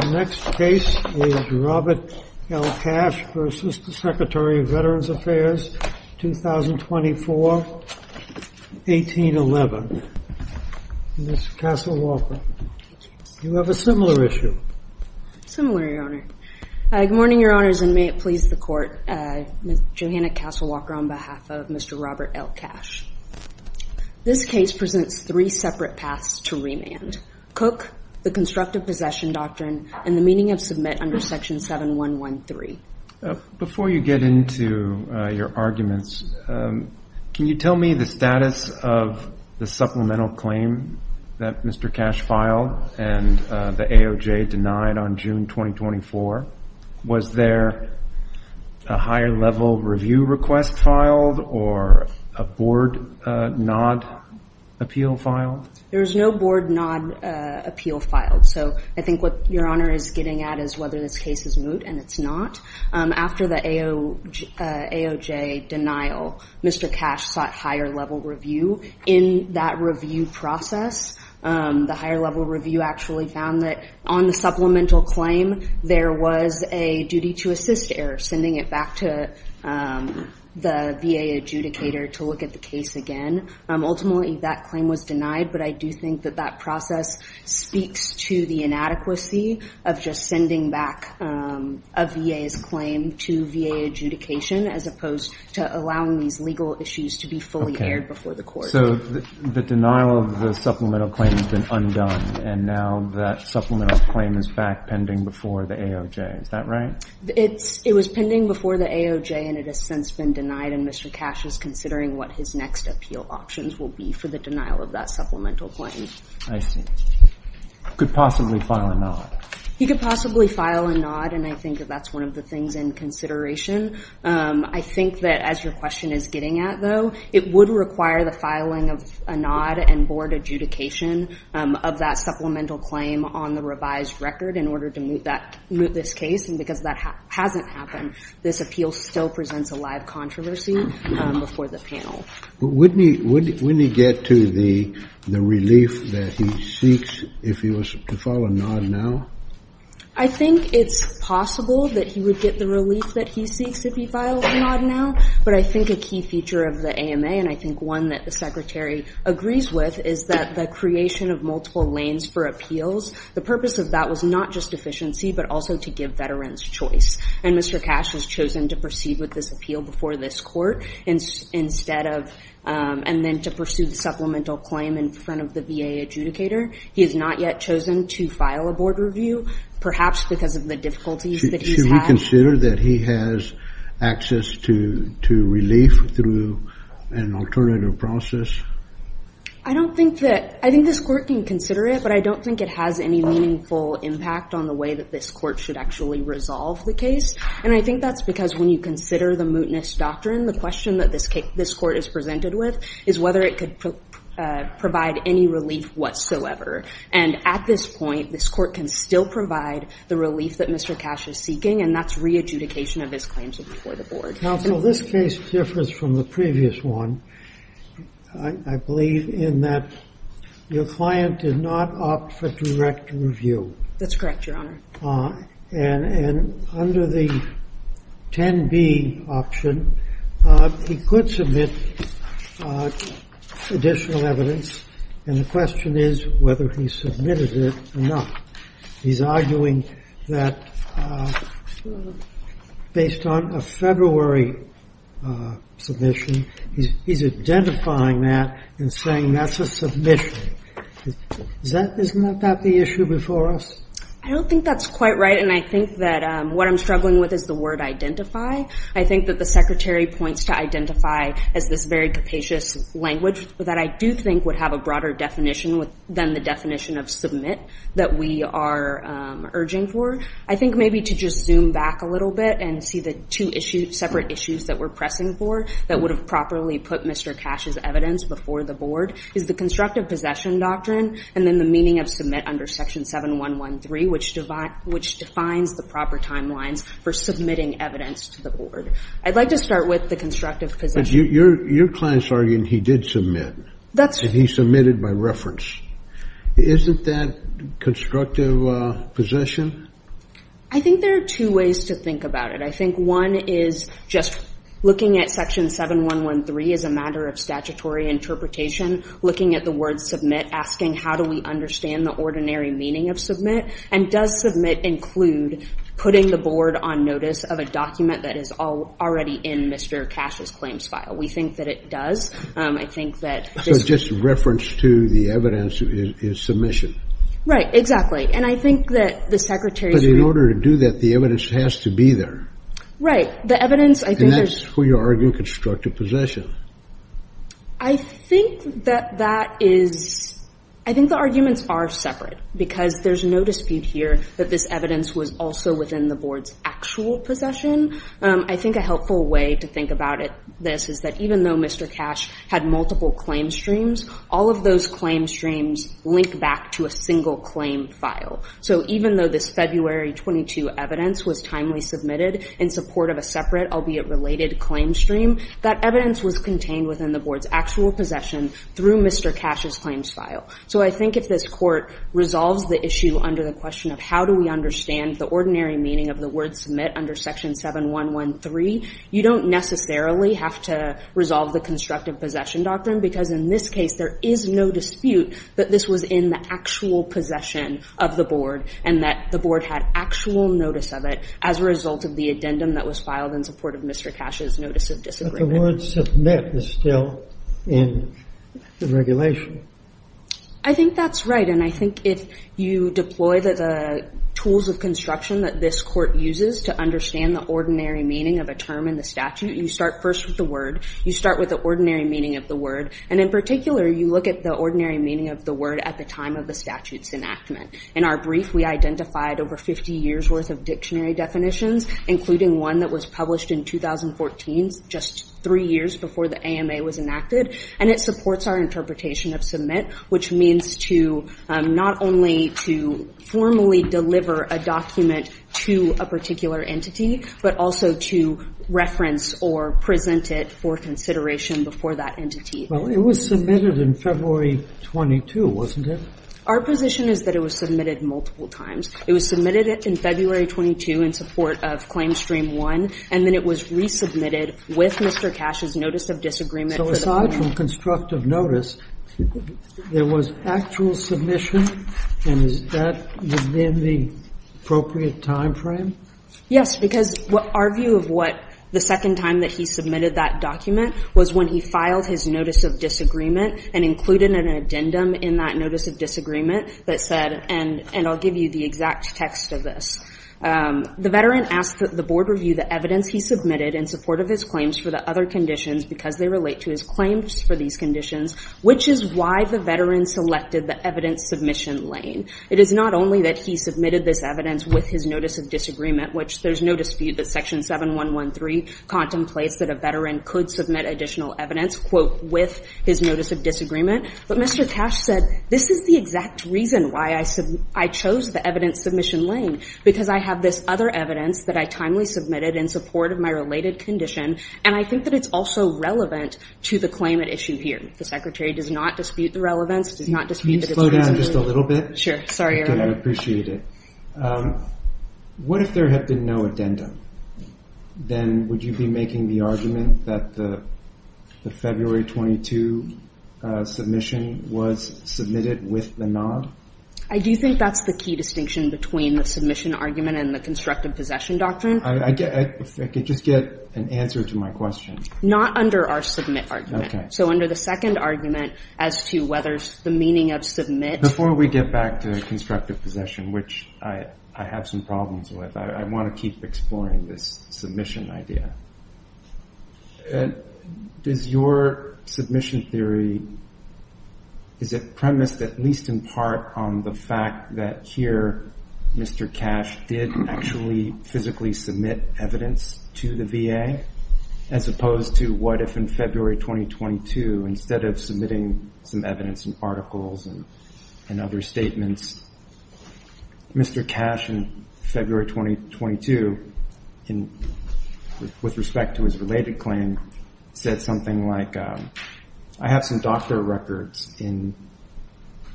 The next case is Robert L. Cash v. Secretary of Veterans Affairs, 2024, 1811. Ms. Castle Walker, you have a similar issue. Similar, Your Honor. Good morning, Your Honors, and may it please the Court. I'm Johanna Castle Walker on behalf of Mr. Robert L. Cash. This case presents three separate paths to remand. Cook, the constructive possession doctrine, and the meaning of submit under Section 7113. Before you get into your arguments, can you tell me the status of the supplemental claim that Mr. Cash filed and the AOJ denied on June 2024? Was there a higher level review request filed or a board nod appeal filed? There was no board nod appeal filed. So I think what Your Honor is getting at is whether this case is moot, and it's not. After the AOJ denial, Mr. Cash sought higher level review. In that review process, the higher level review actually found that on the supplemental claim, there was a duty to assist error, sending it back to the VA adjudicator to look at the case again. Ultimately, that claim was denied, but I do think that that process speaks to the inadequacy of just sending back a VA's claim to VA adjudication as opposed to allowing these legal issues to be fully aired before the court. So the denial of the supplemental claim has been undone, and now that supplemental claim is back pending before the AOJ. Is that right? It was pending before the AOJ, and it has since been denied, and Mr. Cash is considering what his next appeal options will be for the denial of that supplemental claim. I see. He could possibly file a nod. He could possibly file a nod, and I think that that's one of the things in consideration. I think that, as your question is getting at, though, it would require the filing of a nod and board adjudication of that supplemental claim on the revised record in order to moot this case, and because that hasn't happened, this appeal still presents a live controversy before the panel. Wouldn't he get to the relief that he seeks if he was to file a nod now? I think it's possible that he would get the relief that he seeks if he filed a nod now, but I think a key feature of the AMA, and I think one that the Secretary agrees with, is that the creation of multiple lanes for appeals, the purpose of that was not just efficiency but also to give veterans choice, and Mr. Cash has chosen to proceed with this appeal before this court instead of and then to pursue the supplemental claim in front of the VA adjudicator. He has not yet chosen to file a board review, perhaps because of the difficulties that he's had. Should we consider that he has access to relief through an alternative process? I don't think that, I think this court can consider it, but I don't think it has any meaningful impact on the way that this court should actually resolve the case, and I think that's because when you consider the mootness doctrine, the question that this court is presented with is whether it could provide any relief whatsoever, and at this point, this court can still provide the relief that Mr. Cash is seeking, and that's re-adjudication of his claims before the board. Counsel, this case differs from the previous one, I believe, in that your client did not opt for direct review. That's correct, Your Honor. And under the 10B option, he could submit additional evidence, and the question is whether he submitted it or not. He's arguing that based on a February submission, he's identifying that and saying that's a submission. Isn't that the issue before us? I don't think that's quite right, and I think that what I'm struggling with is the word identify. I think that the Secretary points to identify as this very capacious language that I do think would have a broader definition than the definition of submit that we are urging for. I think maybe to just zoom back a little bit and see the two separate issues that we're pressing for that would have properly put Mr. Cash's evidence before the board is the constructive possession doctrine and then the meaning of submit under Section 7113, which defines the proper timelines for submitting evidence to the board. I'd like to start with the constructive possession. Your client's arguing he did submit, and he submitted by reference. Isn't that constructive possession? I think there are two ways to think about it. I think one is just looking at Section 7113 as a matter of statutory interpretation, looking at the word submit, asking how do we understand the ordinary meaning of submit, and does submit include putting the board on notice of a document that is already in Mr. Cash's claims file. We think that it does. I think that this is just a reference to the evidence in submission. Right, exactly. And I think that the Secretary's in order to do that, the evidence has to be there. Right. The evidence, I think, is who you're arguing constructive possession. I think that that is, I think the arguments are separate, because there's no dispute here that this evidence was also within the board's actual possession. I think a helpful way to think about this is that even though Mr. Cash had multiple claim streams, all of those claim streams link back to a single claim file. So even though this February 22 evidence was timely submitted in support of a separate, albeit related, claim stream, that evidence was contained within the board's actual possession through Mr. Cash's claims file. So I think if this Court resolves the issue under the question of how do we understand the ordinary meaning of the word submit under Section 7113, you don't necessarily have to resolve the constructive possession doctrine, because in this case there is no dispute that this was in the actual possession of the board and that the board had actual notice of it as a result of the addendum that was filed in support of Mr. Cash's notice of disagreement. But the word submit is still in the regulation. I think that's right. And I think if you deploy the tools of construction that this Court uses to understand the ordinary meaning of a term in the statute, you start first with the word, you start with the ordinary meaning of the word, and in particular you look at the ordinary meaning of the word at the time of the statute's enactment. In our brief, we identified over 50 years' worth of dictionary definitions, including one that was published in 2014, just three years before the AMA was enacted, and it supports our interpretation of submit, which means to not only to formally deliver a document to a particular entity, but also to reference or present it for consideration before that entity. Well, it was submitted in February 22, wasn't it? Our position is that it was submitted multiple times. It was submitted in February 22 in support of Claim Stream 1, and then it was resubmitted with Mr. Cash's notice of disagreement. So aside from constructive notice, there was actual submission? And is that within the appropriate timeframe? Yes, because our view of what the second time that he submitted that document was when he filed his notice of disagreement and included an addendum in that notice of disagreement that said, and I'll give you the exact text of this, the veteran asked that the board review the evidence he submitted in support of his claims for the other conditions because they relate to his claims for these conditions, which is why the veteran selected the evidence submission lane. It is not only that he submitted this evidence with his notice of disagreement, which there's no dispute that Section 7113 contemplates that a veteran could submit additional evidence, quote, with his notice of disagreement. But Mr. Cash said, this is the exact reason why I chose the evidence submission lane, because I have this other evidence that I timely submitted in support of my related condition, and I think that it's also relevant to the claim at issue here. The Secretary does not dispute the relevance, does not dispute that it's reasonably relevant. Can you slow down just a little bit? Sure. Sorry, Eric. I appreciate it. What if there had been no addendum? Then would you be making the argument that the February 22 submission was submitted with the nod? I do think that's the key distinction between the submission argument and the constructive possession doctrine. If I could just get an answer to my question. Not under our submit argument. Okay. So under the second argument as to whether the meaning of submit. Before we get back to constructive possession, which I have some problems with, I want to keep exploring this submission idea. Does your submission theory, is it premised at least in part on the fact that here, Mr. Cash did actually physically submit evidence to the VA, as opposed to what if in February 2022, instead of submitting some evidence and articles and other statements, Mr. Cash in February 2022, with respect to his related claim, said something like, I have some doctor records in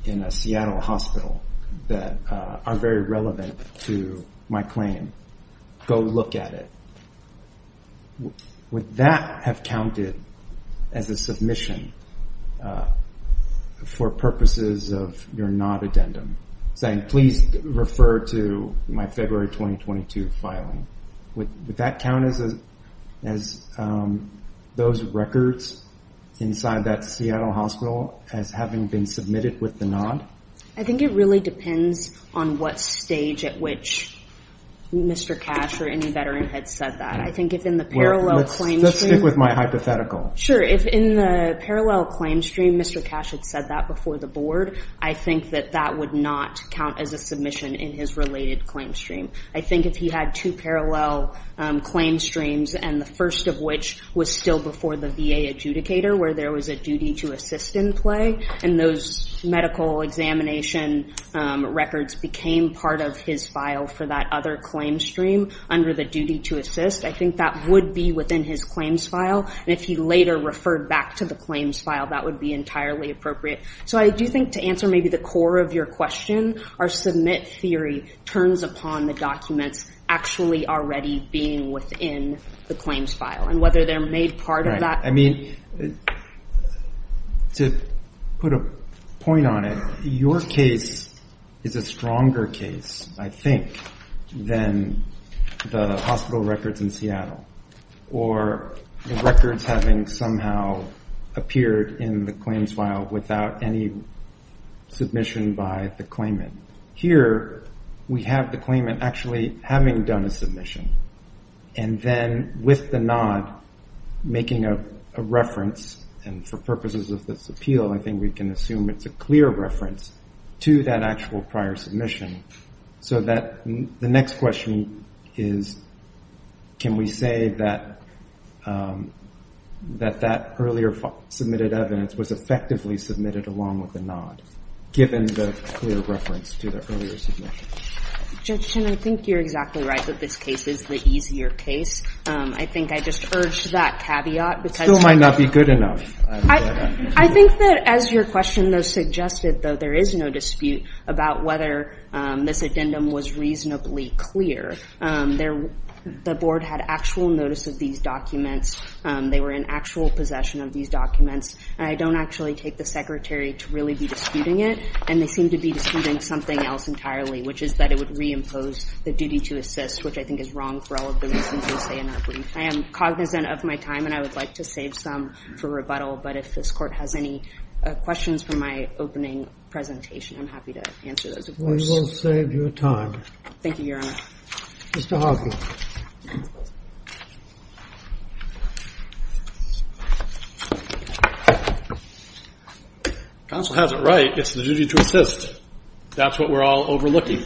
a Seattle hospital that are very relevant to my claim. Go look at it. Would that have counted as a submission for purposes of your nod addendum, saying please refer to my February 2022 filing? Would that count as those records inside that Seattle hospital as having been submitted with the nod? I think it really depends on what stage at which Mr. Cash or any veteran had said that. I think if in the parallel claim stream. Let's stick with my hypothetical. Sure. If in the parallel claim stream, Mr. Cash had said that before the board, I think that that would not count as a submission in his related claim stream. I think if he had two parallel claim streams, and the first of which was still before the VA adjudicator where there was a duty to assist in play, and those medical examination records became part of his file for that other claim stream under the duty to assist, I think that would be within his claims file. And if he later referred back to the claims file, that would be entirely appropriate. So I do think to answer maybe the core of your question, our submit theory turns upon the documents actually already being within the claims file and whether they're made part of that. I mean, to put a point on it, your case is a stronger case, I think, than the hospital records in Seattle, or the records having somehow appeared in the claims file without any submission by the claimant. Here we have the claimant actually having done a submission, and then with the nod, making a reference, and for purposes of this appeal, I think we can assume it's a clear reference to that actual prior submission. So the next question is, can we say that that earlier submitted evidence was effectively submitted along with the nod, given the clear reference to the earlier submission? Judge Chin, I think you're exactly right that this case is the easier case. I think I just urged that caveat because you might not be good enough. I think that as your question, though, suggested, though, there is no dispute about whether this addendum was reasonably clear. The board had actual notice of these documents. They were in actual possession of these documents. I don't actually take the Secretary to really be disputing it, and they seem to be disputing something else entirely, which is that it would reimpose the duty to assist, which I think is wrong for all of the reasons we say in our brief. I am cognizant of my time, and I would like to save some for rebuttal, but if this Court has any questions from my opening presentation, I'm happy to answer those, of course. We will save your time. Thank you, Your Honor. Mr. Hosni. Counsel has it right. It's the duty to assist. That's what we're all overlooking.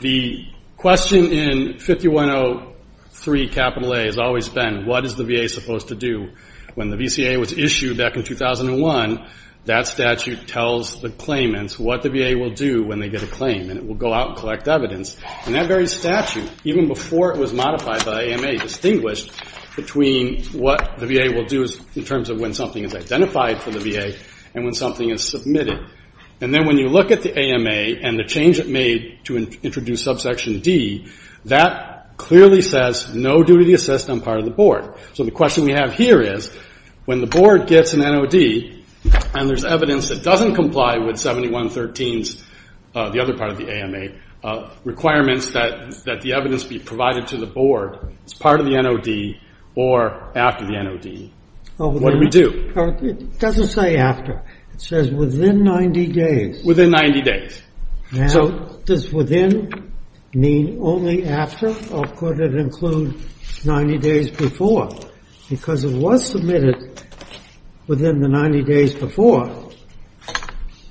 The question in 5103A has always been what is the VA supposed to do? When the VCA was issued back in 2001, that statute tells the claimants what the VA will do when they get a claim, and it will go out and collect evidence. And that very statute, even before it was modified by AMA, distinguished between what the VA will do in terms of when something is identified for the VA and when something is submitted. And then when you look at the AMA and the change it made to introduce subsection D, that clearly says no duty to assist on part of the board. So the question we have here is when the board gets an NOD and there's evidence that doesn't comply with 7113, the other part of the AMA, requirements that the evidence be provided to the board as part of the NOD or after the NOD, what do we do? It doesn't say after. It says within 90 days. Within 90 days. Now, does within mean only after, or could it include 90 days before? Because it was submitted within the 90 days before,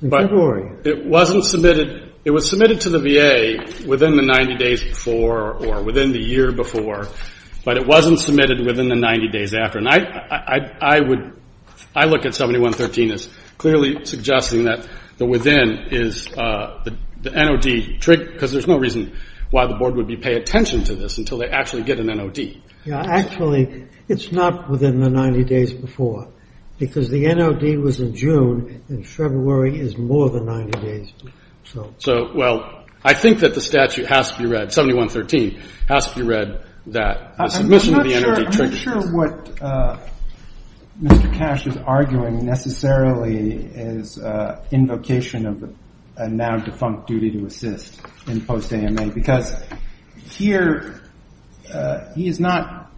in February. But it wasn't submitted. It was submitted to the VA within the 90 days before or within the year before, but it wasn't submitted within the 90 days after. And I would, I look at 7113 as clearly suggesting that the within is the NOD, because there's no reason why the board would pay attention to this until they actually get an NOD. Actually, it's not within the 90 days before, because the NOD was in June, and February is more than 90 days. So, well, I think that the statute has to be read, 7113 has to be read, that the submission of the NOD triggers it. I'm not sure what Mr. Cash is arguing necessarily is invocation of a now defunct duty to assist in post-AMA, because here he is not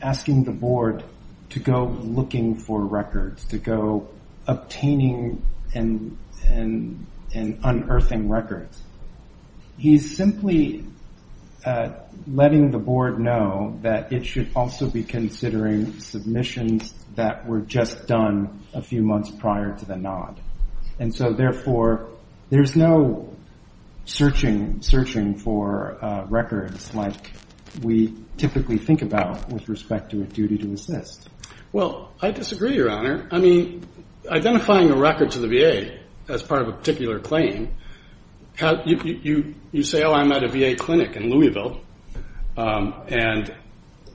asking the board to go looking for records, to go obtaining and unearthing records. He's simply letting the board know that it should also be considering submissions that were just done a few months prior to the NOD. And so, therefore, there's no searching for records like we typically think about with respect to a duty to assist. Well, I disagree, Your Honor. I mean, identifying a record to the VA as part of a particular claim, you say, oh, I'm at a VA clinic in Louisville, and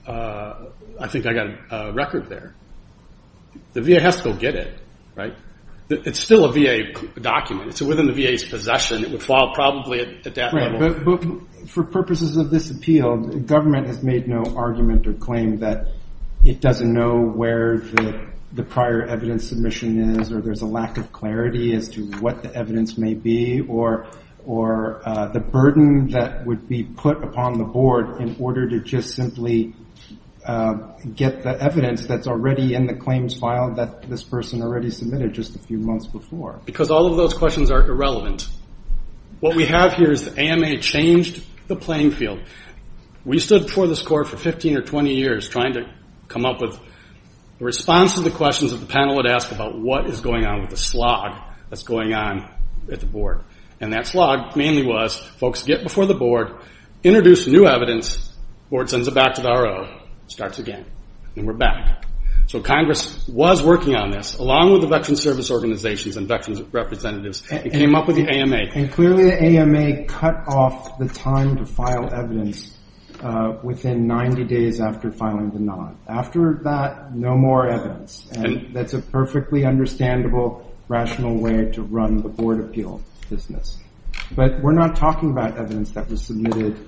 I think I got a record there. The VA has to go get it, right? It's still a VA document. It's within the VA's possession. It would fall probably at that level. But for purposes of this appeal, the government has made no argument or claim that it doesn't know where the prior evidence submission is, or there's a lack of clarity as to what the evidence may be, or the burden that would be put upon the board in order to just simply get the evidence that's already in the claims file that this person already submitted just a few months before. Because all of those questions are irrelevant. What we have here is the AMA changed the playing field. We stood before this court for 15 or 20 years trying to come up with a response to the questions that the panel would ask about what is going on with the slog that's going on at the board. And that slog mainly was folks get before the board, introduce new evidence, the board sends it back to the RO, starts again, and we're back. So Congress was working on this, along with the Veterans Service Organizations and veterans representatives, and came up with the AMA. And clearly the AMA cut off the time to file evidence within 90 days after filing the nod. After that, no more evidence. And that's a perfectly understandable, rational way to run the board appeal business. But we're not talking about evidence that was submitted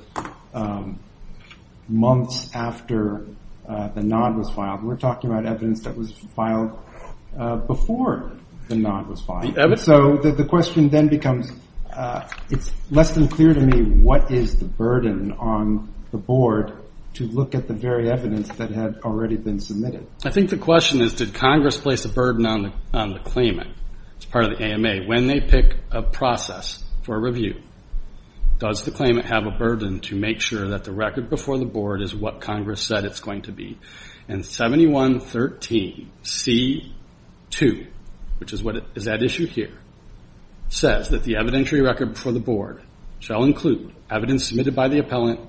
months after the nod was filed. We're talking about evidence that was filed before the nod was filed. So the question then becomes, it's less than clear to me, what is the burden on the board to look at the very evidence that had already been submitted? I think the question is, did Congress place a burden on the claimant as part of the AMA when they pick a process for review? Does the claimant have a burden to make sure that the record before the board is what Congress said it's going to be? And 7113C2, which is that issue here, says that the evidentiary record before the board shall include evidence submitted by the appellant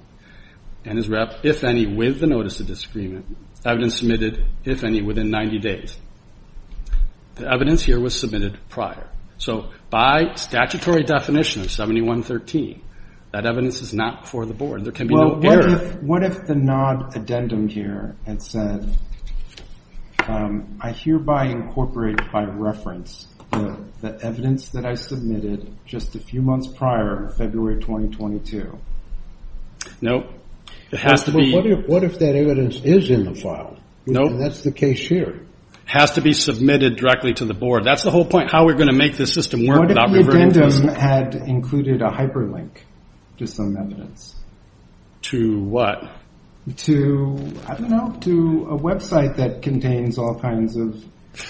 and is wrapped, if any, with the notice of disagreement, evidence submitted, if any, within 90 days. The evidence here was submitted prior. So by statutory definition of 7113, that evidence is not before the board. What if the nod addendum here had said, I hereby incorporate by reference the evidence that I submitted just a few months prior, February 2022? No. What if that evidence is in the file? No. That's the case here. It has to be submitted directly to the board. That's the whole point, how we're going to make this system work without reverting to us. What if the claim had included a hyperlink to some evidence? To what? To, I don't know, to a website that contains all kinds of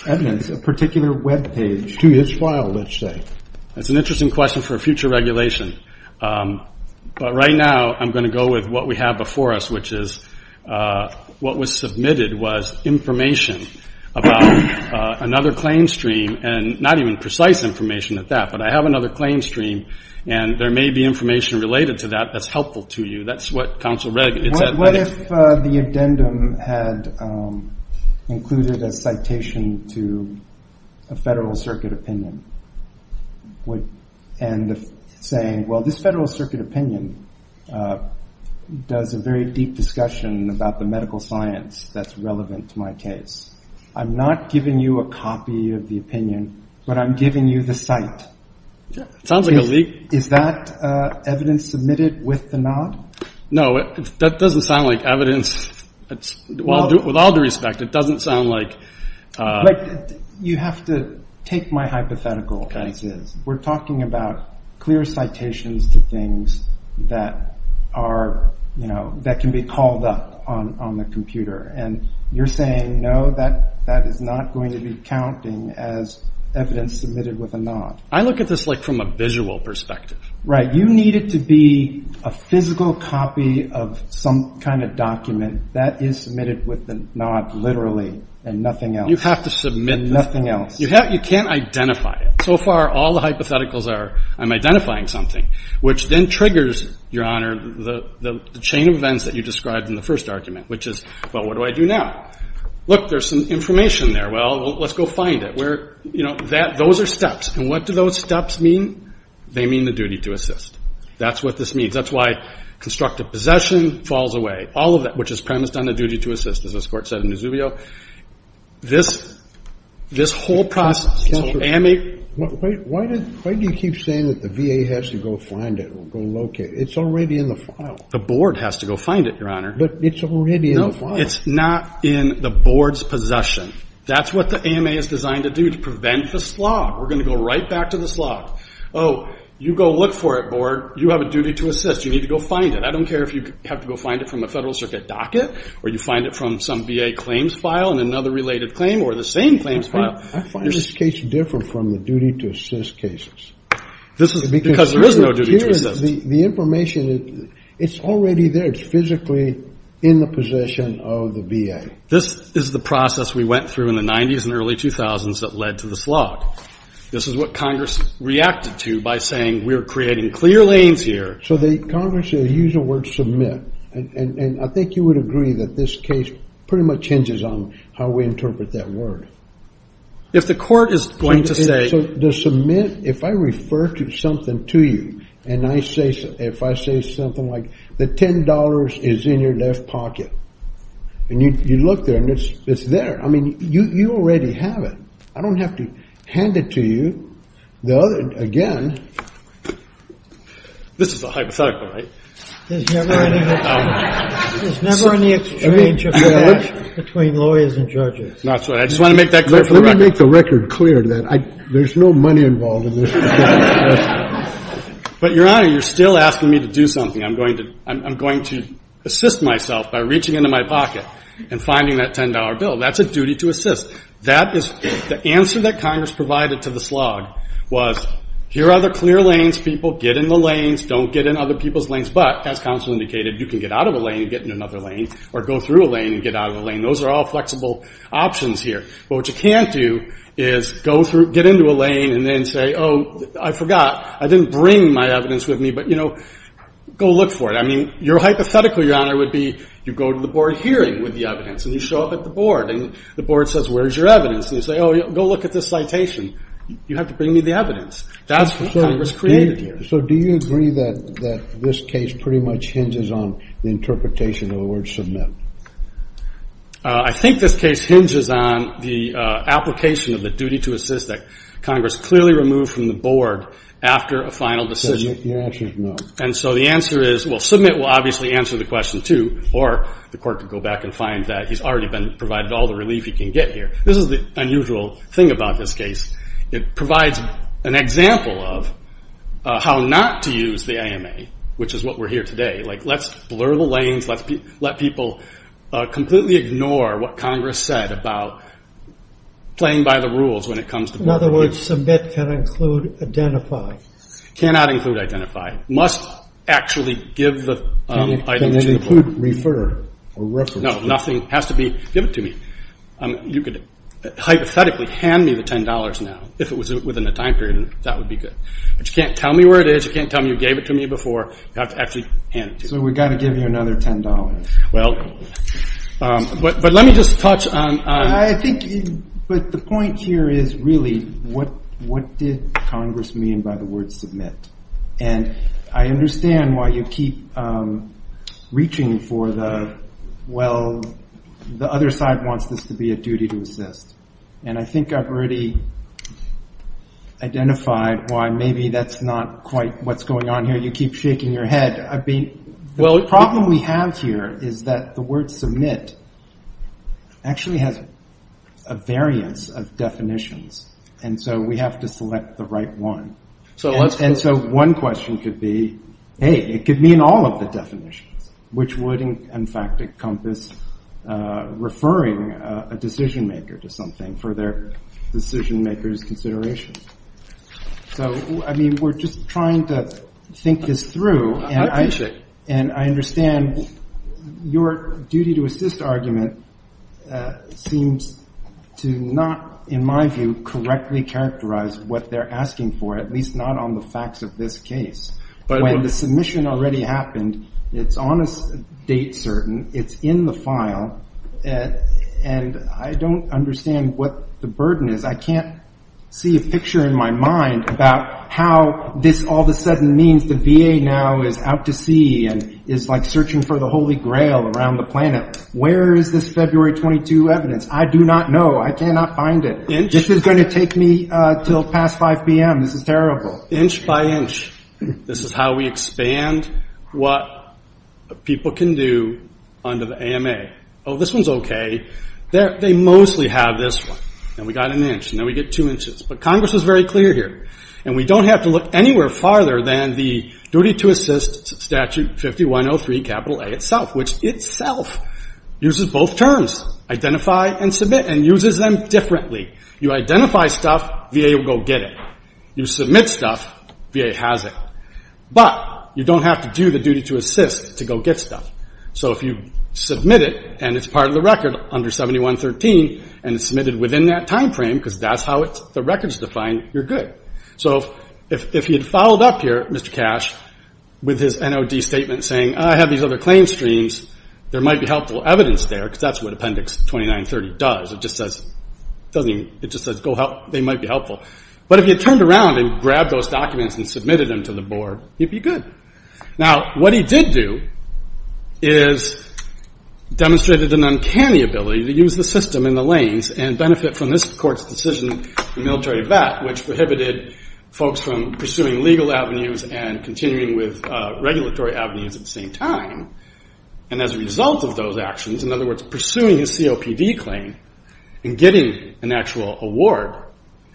evidence, a particular web page. To each file, let's say. That's an interesting question for a future regulation. But right now I'm going to go with what we have before us, which is what was submitted was information about another claim stream, and not even precise information at that. But I have another claim stream, and there may be information related to that that's helpful to you. That's what counsel read. What if the addendum had included a citation to a federal circuit opinion? And saying, well, this federal circuit opinion does a very deep discussion about the medical science that's relevant to my case. I'm not giving you a copy of the opinion, but I'm giving you the site. Sounds like a leak. Is that evidence submitted with the NOD? No, that doesn't sound like evidence. With all due respect, it doesn't sound like... You have to take my hypothetical. We're talking about clear citations to things that can be called up on the computer. And you're saying, no, that is not going to be counting as evidence submitted with a NOD. I look at this like from a visual perspective. Right. You need it to be a physical copy of some kind of document that is submitted with the NOD literally and nothing else. You have to submit... And nothing else. You can't identify it. So far all the hypotheticals are I'm identifying something, which then triggers, Your Honor, the chain of events that you described in the first argument, which is, well, what do I do now? Look, there's some information there. Well, let's go find it. Those are steps. And what do those steps mean? They mean the duty to assist. That's what this means. That's why constructive possession falls away. All of that, which is premised on the duty to assist, as this Court said in Nazubio. This whole process... Why do you keep saying that the VA has to go find it or go locate it? It's already in the file. The Board has to go find it, Your Honor. But it's already in the file. No, it's not in the Board's possession. That's what the AMA is designed to do to prevent the slog. We're going to go right back to the slog. Oh, you go look for it, Board. You have a duty to assist. You need to go find it. I don't care if you have to go find it from a Federal Circuit docket or you find it from some VA claims file and another related claim or the same claims file. I find this case different from the duty to assist cases. This is because there is no duty to assist. The information, it's already there. It's physically in the possession of the VA. This is the process we went through in the 90s and early 2000s that led to the slog. This is what Congress reacted to by saying we're creating clear lanes here. So Congress used the word submit, and I think you would agree that this case pretty much hinges on how we interpret that word. If the Court is going to say... If I refer something to you and I say something like the $10 is in your left pocket, and you look there and it's there, I mean, you already have it. I don't have to hand it to you. Again... This is a hypothetical, right? There's never any exchange of knowledge between lawyers and judges. That's right. I just want to make that clear for the record. There's no money involved in this. But, Your Honor, you're still asking me to do something. I'm going to assist myself by reaching into my pocket and finding that $10 bill. That's a duty to assist. The answer that Congress provided to the slog was here are the clear lanes. People get in the lanes. Don't get in other people's lanes. But, as counsel indicated, you can get out of a lane and get in another lane or go through a lane and get out of a lane. Those are all flexible options here. But what you can't do is get into a lane and then say, oh, I forgot, I didn't bring my evidence with me. But, you know, go look for it. I mean, your hypothetical, Your Honor, would be you go to the board hearing with the evidence, and you show up at the board, and the board says, where's your evidence? And you say, oh, go look at this citation. You have to bring me the evidence. That's what Congress created here. So do you agree that this case pretty much hinges on the interpretation of the word submit? I think this case hinges on the application of the duty to assist that Congress clearly removed from the board after a final decision. Your answer is no. And so the answer is, well, submit will obviously answer the question too, or the court could go back and find that he's already been provided all the relief he can get here. This is the unusual thing about this case. It provides an example of how not to use the AMA, which is what we're here today. Like, let's blur the lanes. Let's let people completely ignore what Congress said about playing by the rules when it comes to board hearings. In other words, submit can include identify. It cannot include identify. It must actually give the item to the board. It can include refer or reference. No, nothing has to be given to me. You could hypothetically hand me the $10 now if it was within a time period, and that would be good. But you can't tell me where it is. You can't tell me you gave it to me before. You have to actually hand it to me. So we've got to give you another $10. Well, but let me just touch on. I think, but the point here is really what did Congress mean by the word submit? And I understand why you keep reaching for the, well, the other side wants this to be a duty to assist. And I think I've already identified why maybe that's not quite what's going on here. I know you keep shaking your head. I mean, the problem we have here is that the word submit actually has a variance of definitions. And so we have to select the right one. And so one question could be, hey, it could mean all of the definitions, which would, in fact, encompass referring a decision-maker to something for their decision-maker's consideration. So, I mean, we're just trying to think this through. I appreciate it. And I understand your duty to assist argument seems to not, in my view, correctly characterize what they're asking for, at least not on the facts of this case. When the submission already happened, it's on a date certain. It's in the file. And I don't understand what the burden is. I can't see a picture in my mind about how this all of a sudden means the VA now is out to sea and is, like, searching for the Holy Grail around the planet. Where is this February 22 evidence? I do not know. I cannot find it. This is going to take me until past 5 p.m. This is terrible. Inch by inch, this is how we expand what people can do under the AMA. Oh, this one's okay. They mostly have this one. And we got an inch. And then we get two inches. But Congress is very clear here. And we don't have to look anywhere farther than the duty to assist statute 5103A itself, which itself uses both terms, identify and submit, and uses them differently. You identify stuff, VA will go get it. You submit stuff, VA has it. But you don't have to do the duty to assist to go get stuff. So if you submit it and it's part of the record under 7113 and it's submitted within that time frame because that's how the record's defined, you're good. So if he had followed up here, Mr. Cash, with his NOD statement saying, I have these other claim streams, there might be helpful evidence there because that's what Appendix 2930 does. It just says go help. They might be helpful. But if he had turned around and grabbed those documents and submitted them to the board, he'd be good. Now, what he did do is demonstrated an uncanny ability to use the system in the lanes and benefit from this court's decision, the military vet, which prohibited folks from pursuing legal avenues and continuing with regulatory avenues at the same time. And as a result of those actions, in other words, pursuing his COPD claim and getting an actual award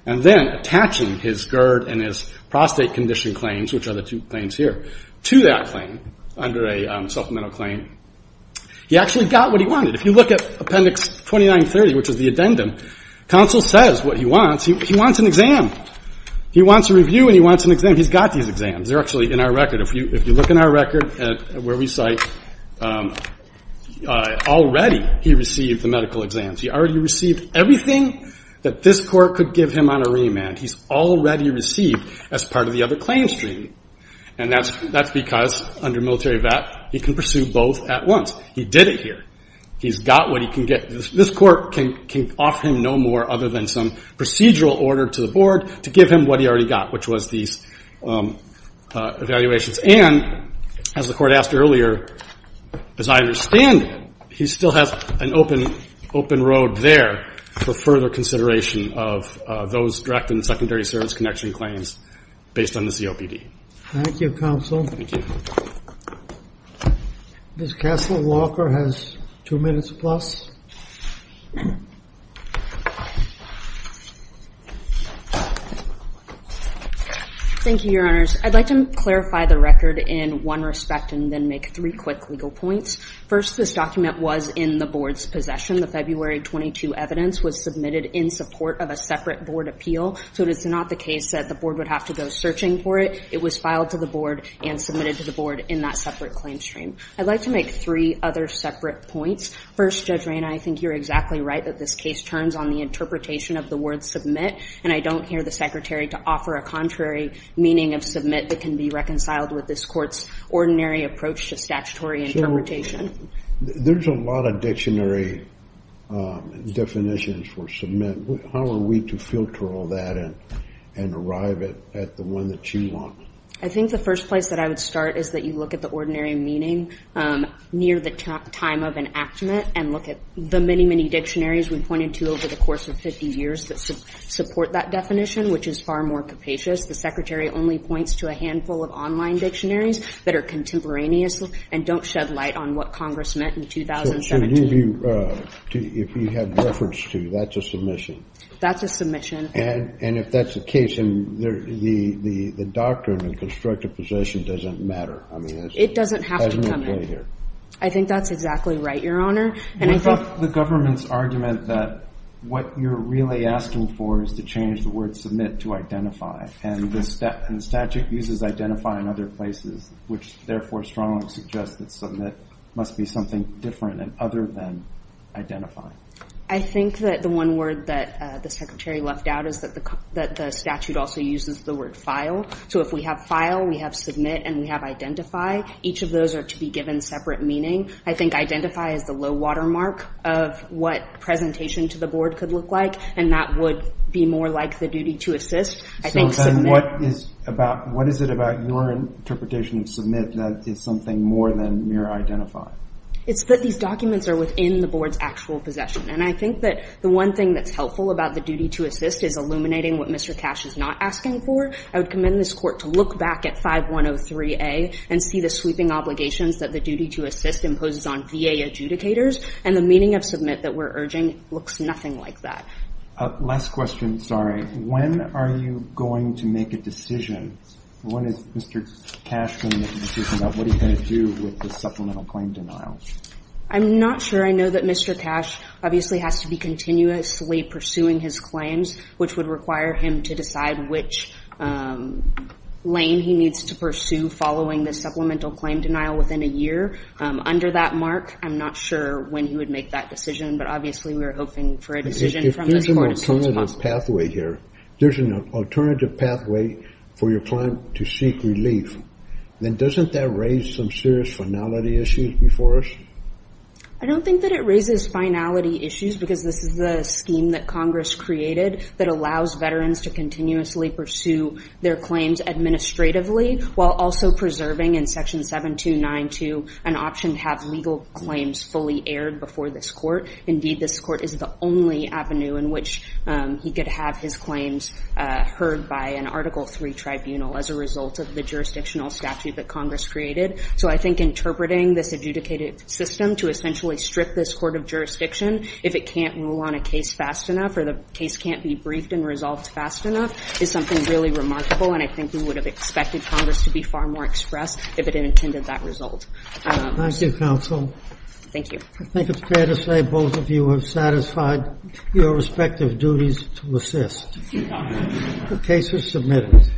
and then attaching his GERD and his prostate condition claims, which are the two claims here, to that claim under a supplemental claim, he actually got what he wanted. If you look at Appendix 2930, which is the addendum, counsel says what he wants, he wants an exam. He wants a review and he wants an exam. He's got these exams. They're actually in our record. If you look in our record where we cite, already he received the medical exams. He already received everything that this court could give him on a remand. He's already received as part of the other claim stream, and that's because under military vet he can pursue both at once. He did it here. He's got what he can get. This court can offer him no more other than some procedural order to the board to give him what he already got, which was these evaluations. And as the court asked earlier, as I understand it, he still has an open road there for further consideration of those direct and secondary service connection claims based on the COPD. Thank you, counsel. Thank you. Ms. Castle Walker has two minutes plus. Thank you, Your Honors. I'd like to clarify the record in one respect and then make three quick legal points. First, this document was in the board's possession. The February 22 evidence was submitted in support of a separate board appeal, so it is not the case that the board would have to go searching for it. It was filed to the board and submitted to the board in that separate claim stream. I'd like to make three other separate points. First, Judge Rayna, I think you're exactly right that this case turns on the interpretation of the word submit, and I don't hear the secretary to offer a contrary meaning of submit that can be reconciled with this court's ordinary approach to statutory interpretation. There's a lot of dictionary definitions for submit. How are we to filter all that and arrive at the one that you want? I think the first place that I would start is that you look at the ordinary meaning near the time of enactment and look at the many, many dictionaries we've pointed to over the course of 50 years that support that definition, which is far more capacious. The secretary only points to a handful of online dictionaries that are contemporaneous and don't shed light on what Congress meant in 2017. So if you have reference to, that's a submission? That's a submission. And if that's the case, then the doctrine and constructive position doesn't matter? It doesn't have to come in. I think that's exactly right, Your Honor. What about the government's argument that what you're really asking for is to change the word submit to identify, and the statute uses identify in other places, which therefore strongly suggests that submit must be something different and other than identify. I think that the one word that the secretary left out is that the statute also uses the word file. So if we have file, we have submit, and we have identify, each of those are to be given separate meaning. I think identify is the low-water mark of what presentation to the board could look like, and that would be more like the duty to assist. So then what is it about your interpretation of submit that is something more than mere identify? It's that these documents are within the board's actual possession, and I think that the one thing that's helpful about the duty to assist is illuminating what Mr. Cash is not asking for. I would commend this court to look back at 5103A and see the sweeping obligations that the duty to assist imposes on VA adjudicators, and the meaning of submit that we're urging looks nothing like that. Last question, sorry. When are you going to make a decision? When is Mr. Cash going to make a decision about what he's going to do with the supplemental claim denial? I'm not sure. I know that Mr. Cash obviously has to be continuously pursuing his claims, which would require him to decide which lane he needs to pursue following the supplemental claim denial within a year. Under that mark, I'm not sure when he would make that decision, but obviously we're hoping for a decision from this court as soon as possible. If there's an alternative pathway here, there's an alternative pathway for your client to seek relief, then doesn't that raise some serious finality issues before us? I don't think that it raises finality issues, because this is the scheme that Congress created that allows veterans to continuously pursue their claims administratively, while also preserving in Section 7292 an option to have legal claims fully aired before this court. Indeed, this court is the only avenue in which he could have his claims heard by an Article III tribunal as a result of the jurisdictional statute that Congress created. So I think interpreting this adjudicated system to essentially strip this court of jurisdiction if it can't rule on a case fast enough or the case can't be briefed and resolved fast enough is something really remarkable, and I think we would have expected Congress to be far more expressed if it intended that result. Thank you, counsel. Thank you. I think it's fair to say both of you have satisfied your respective duties to assist. The case is submitted.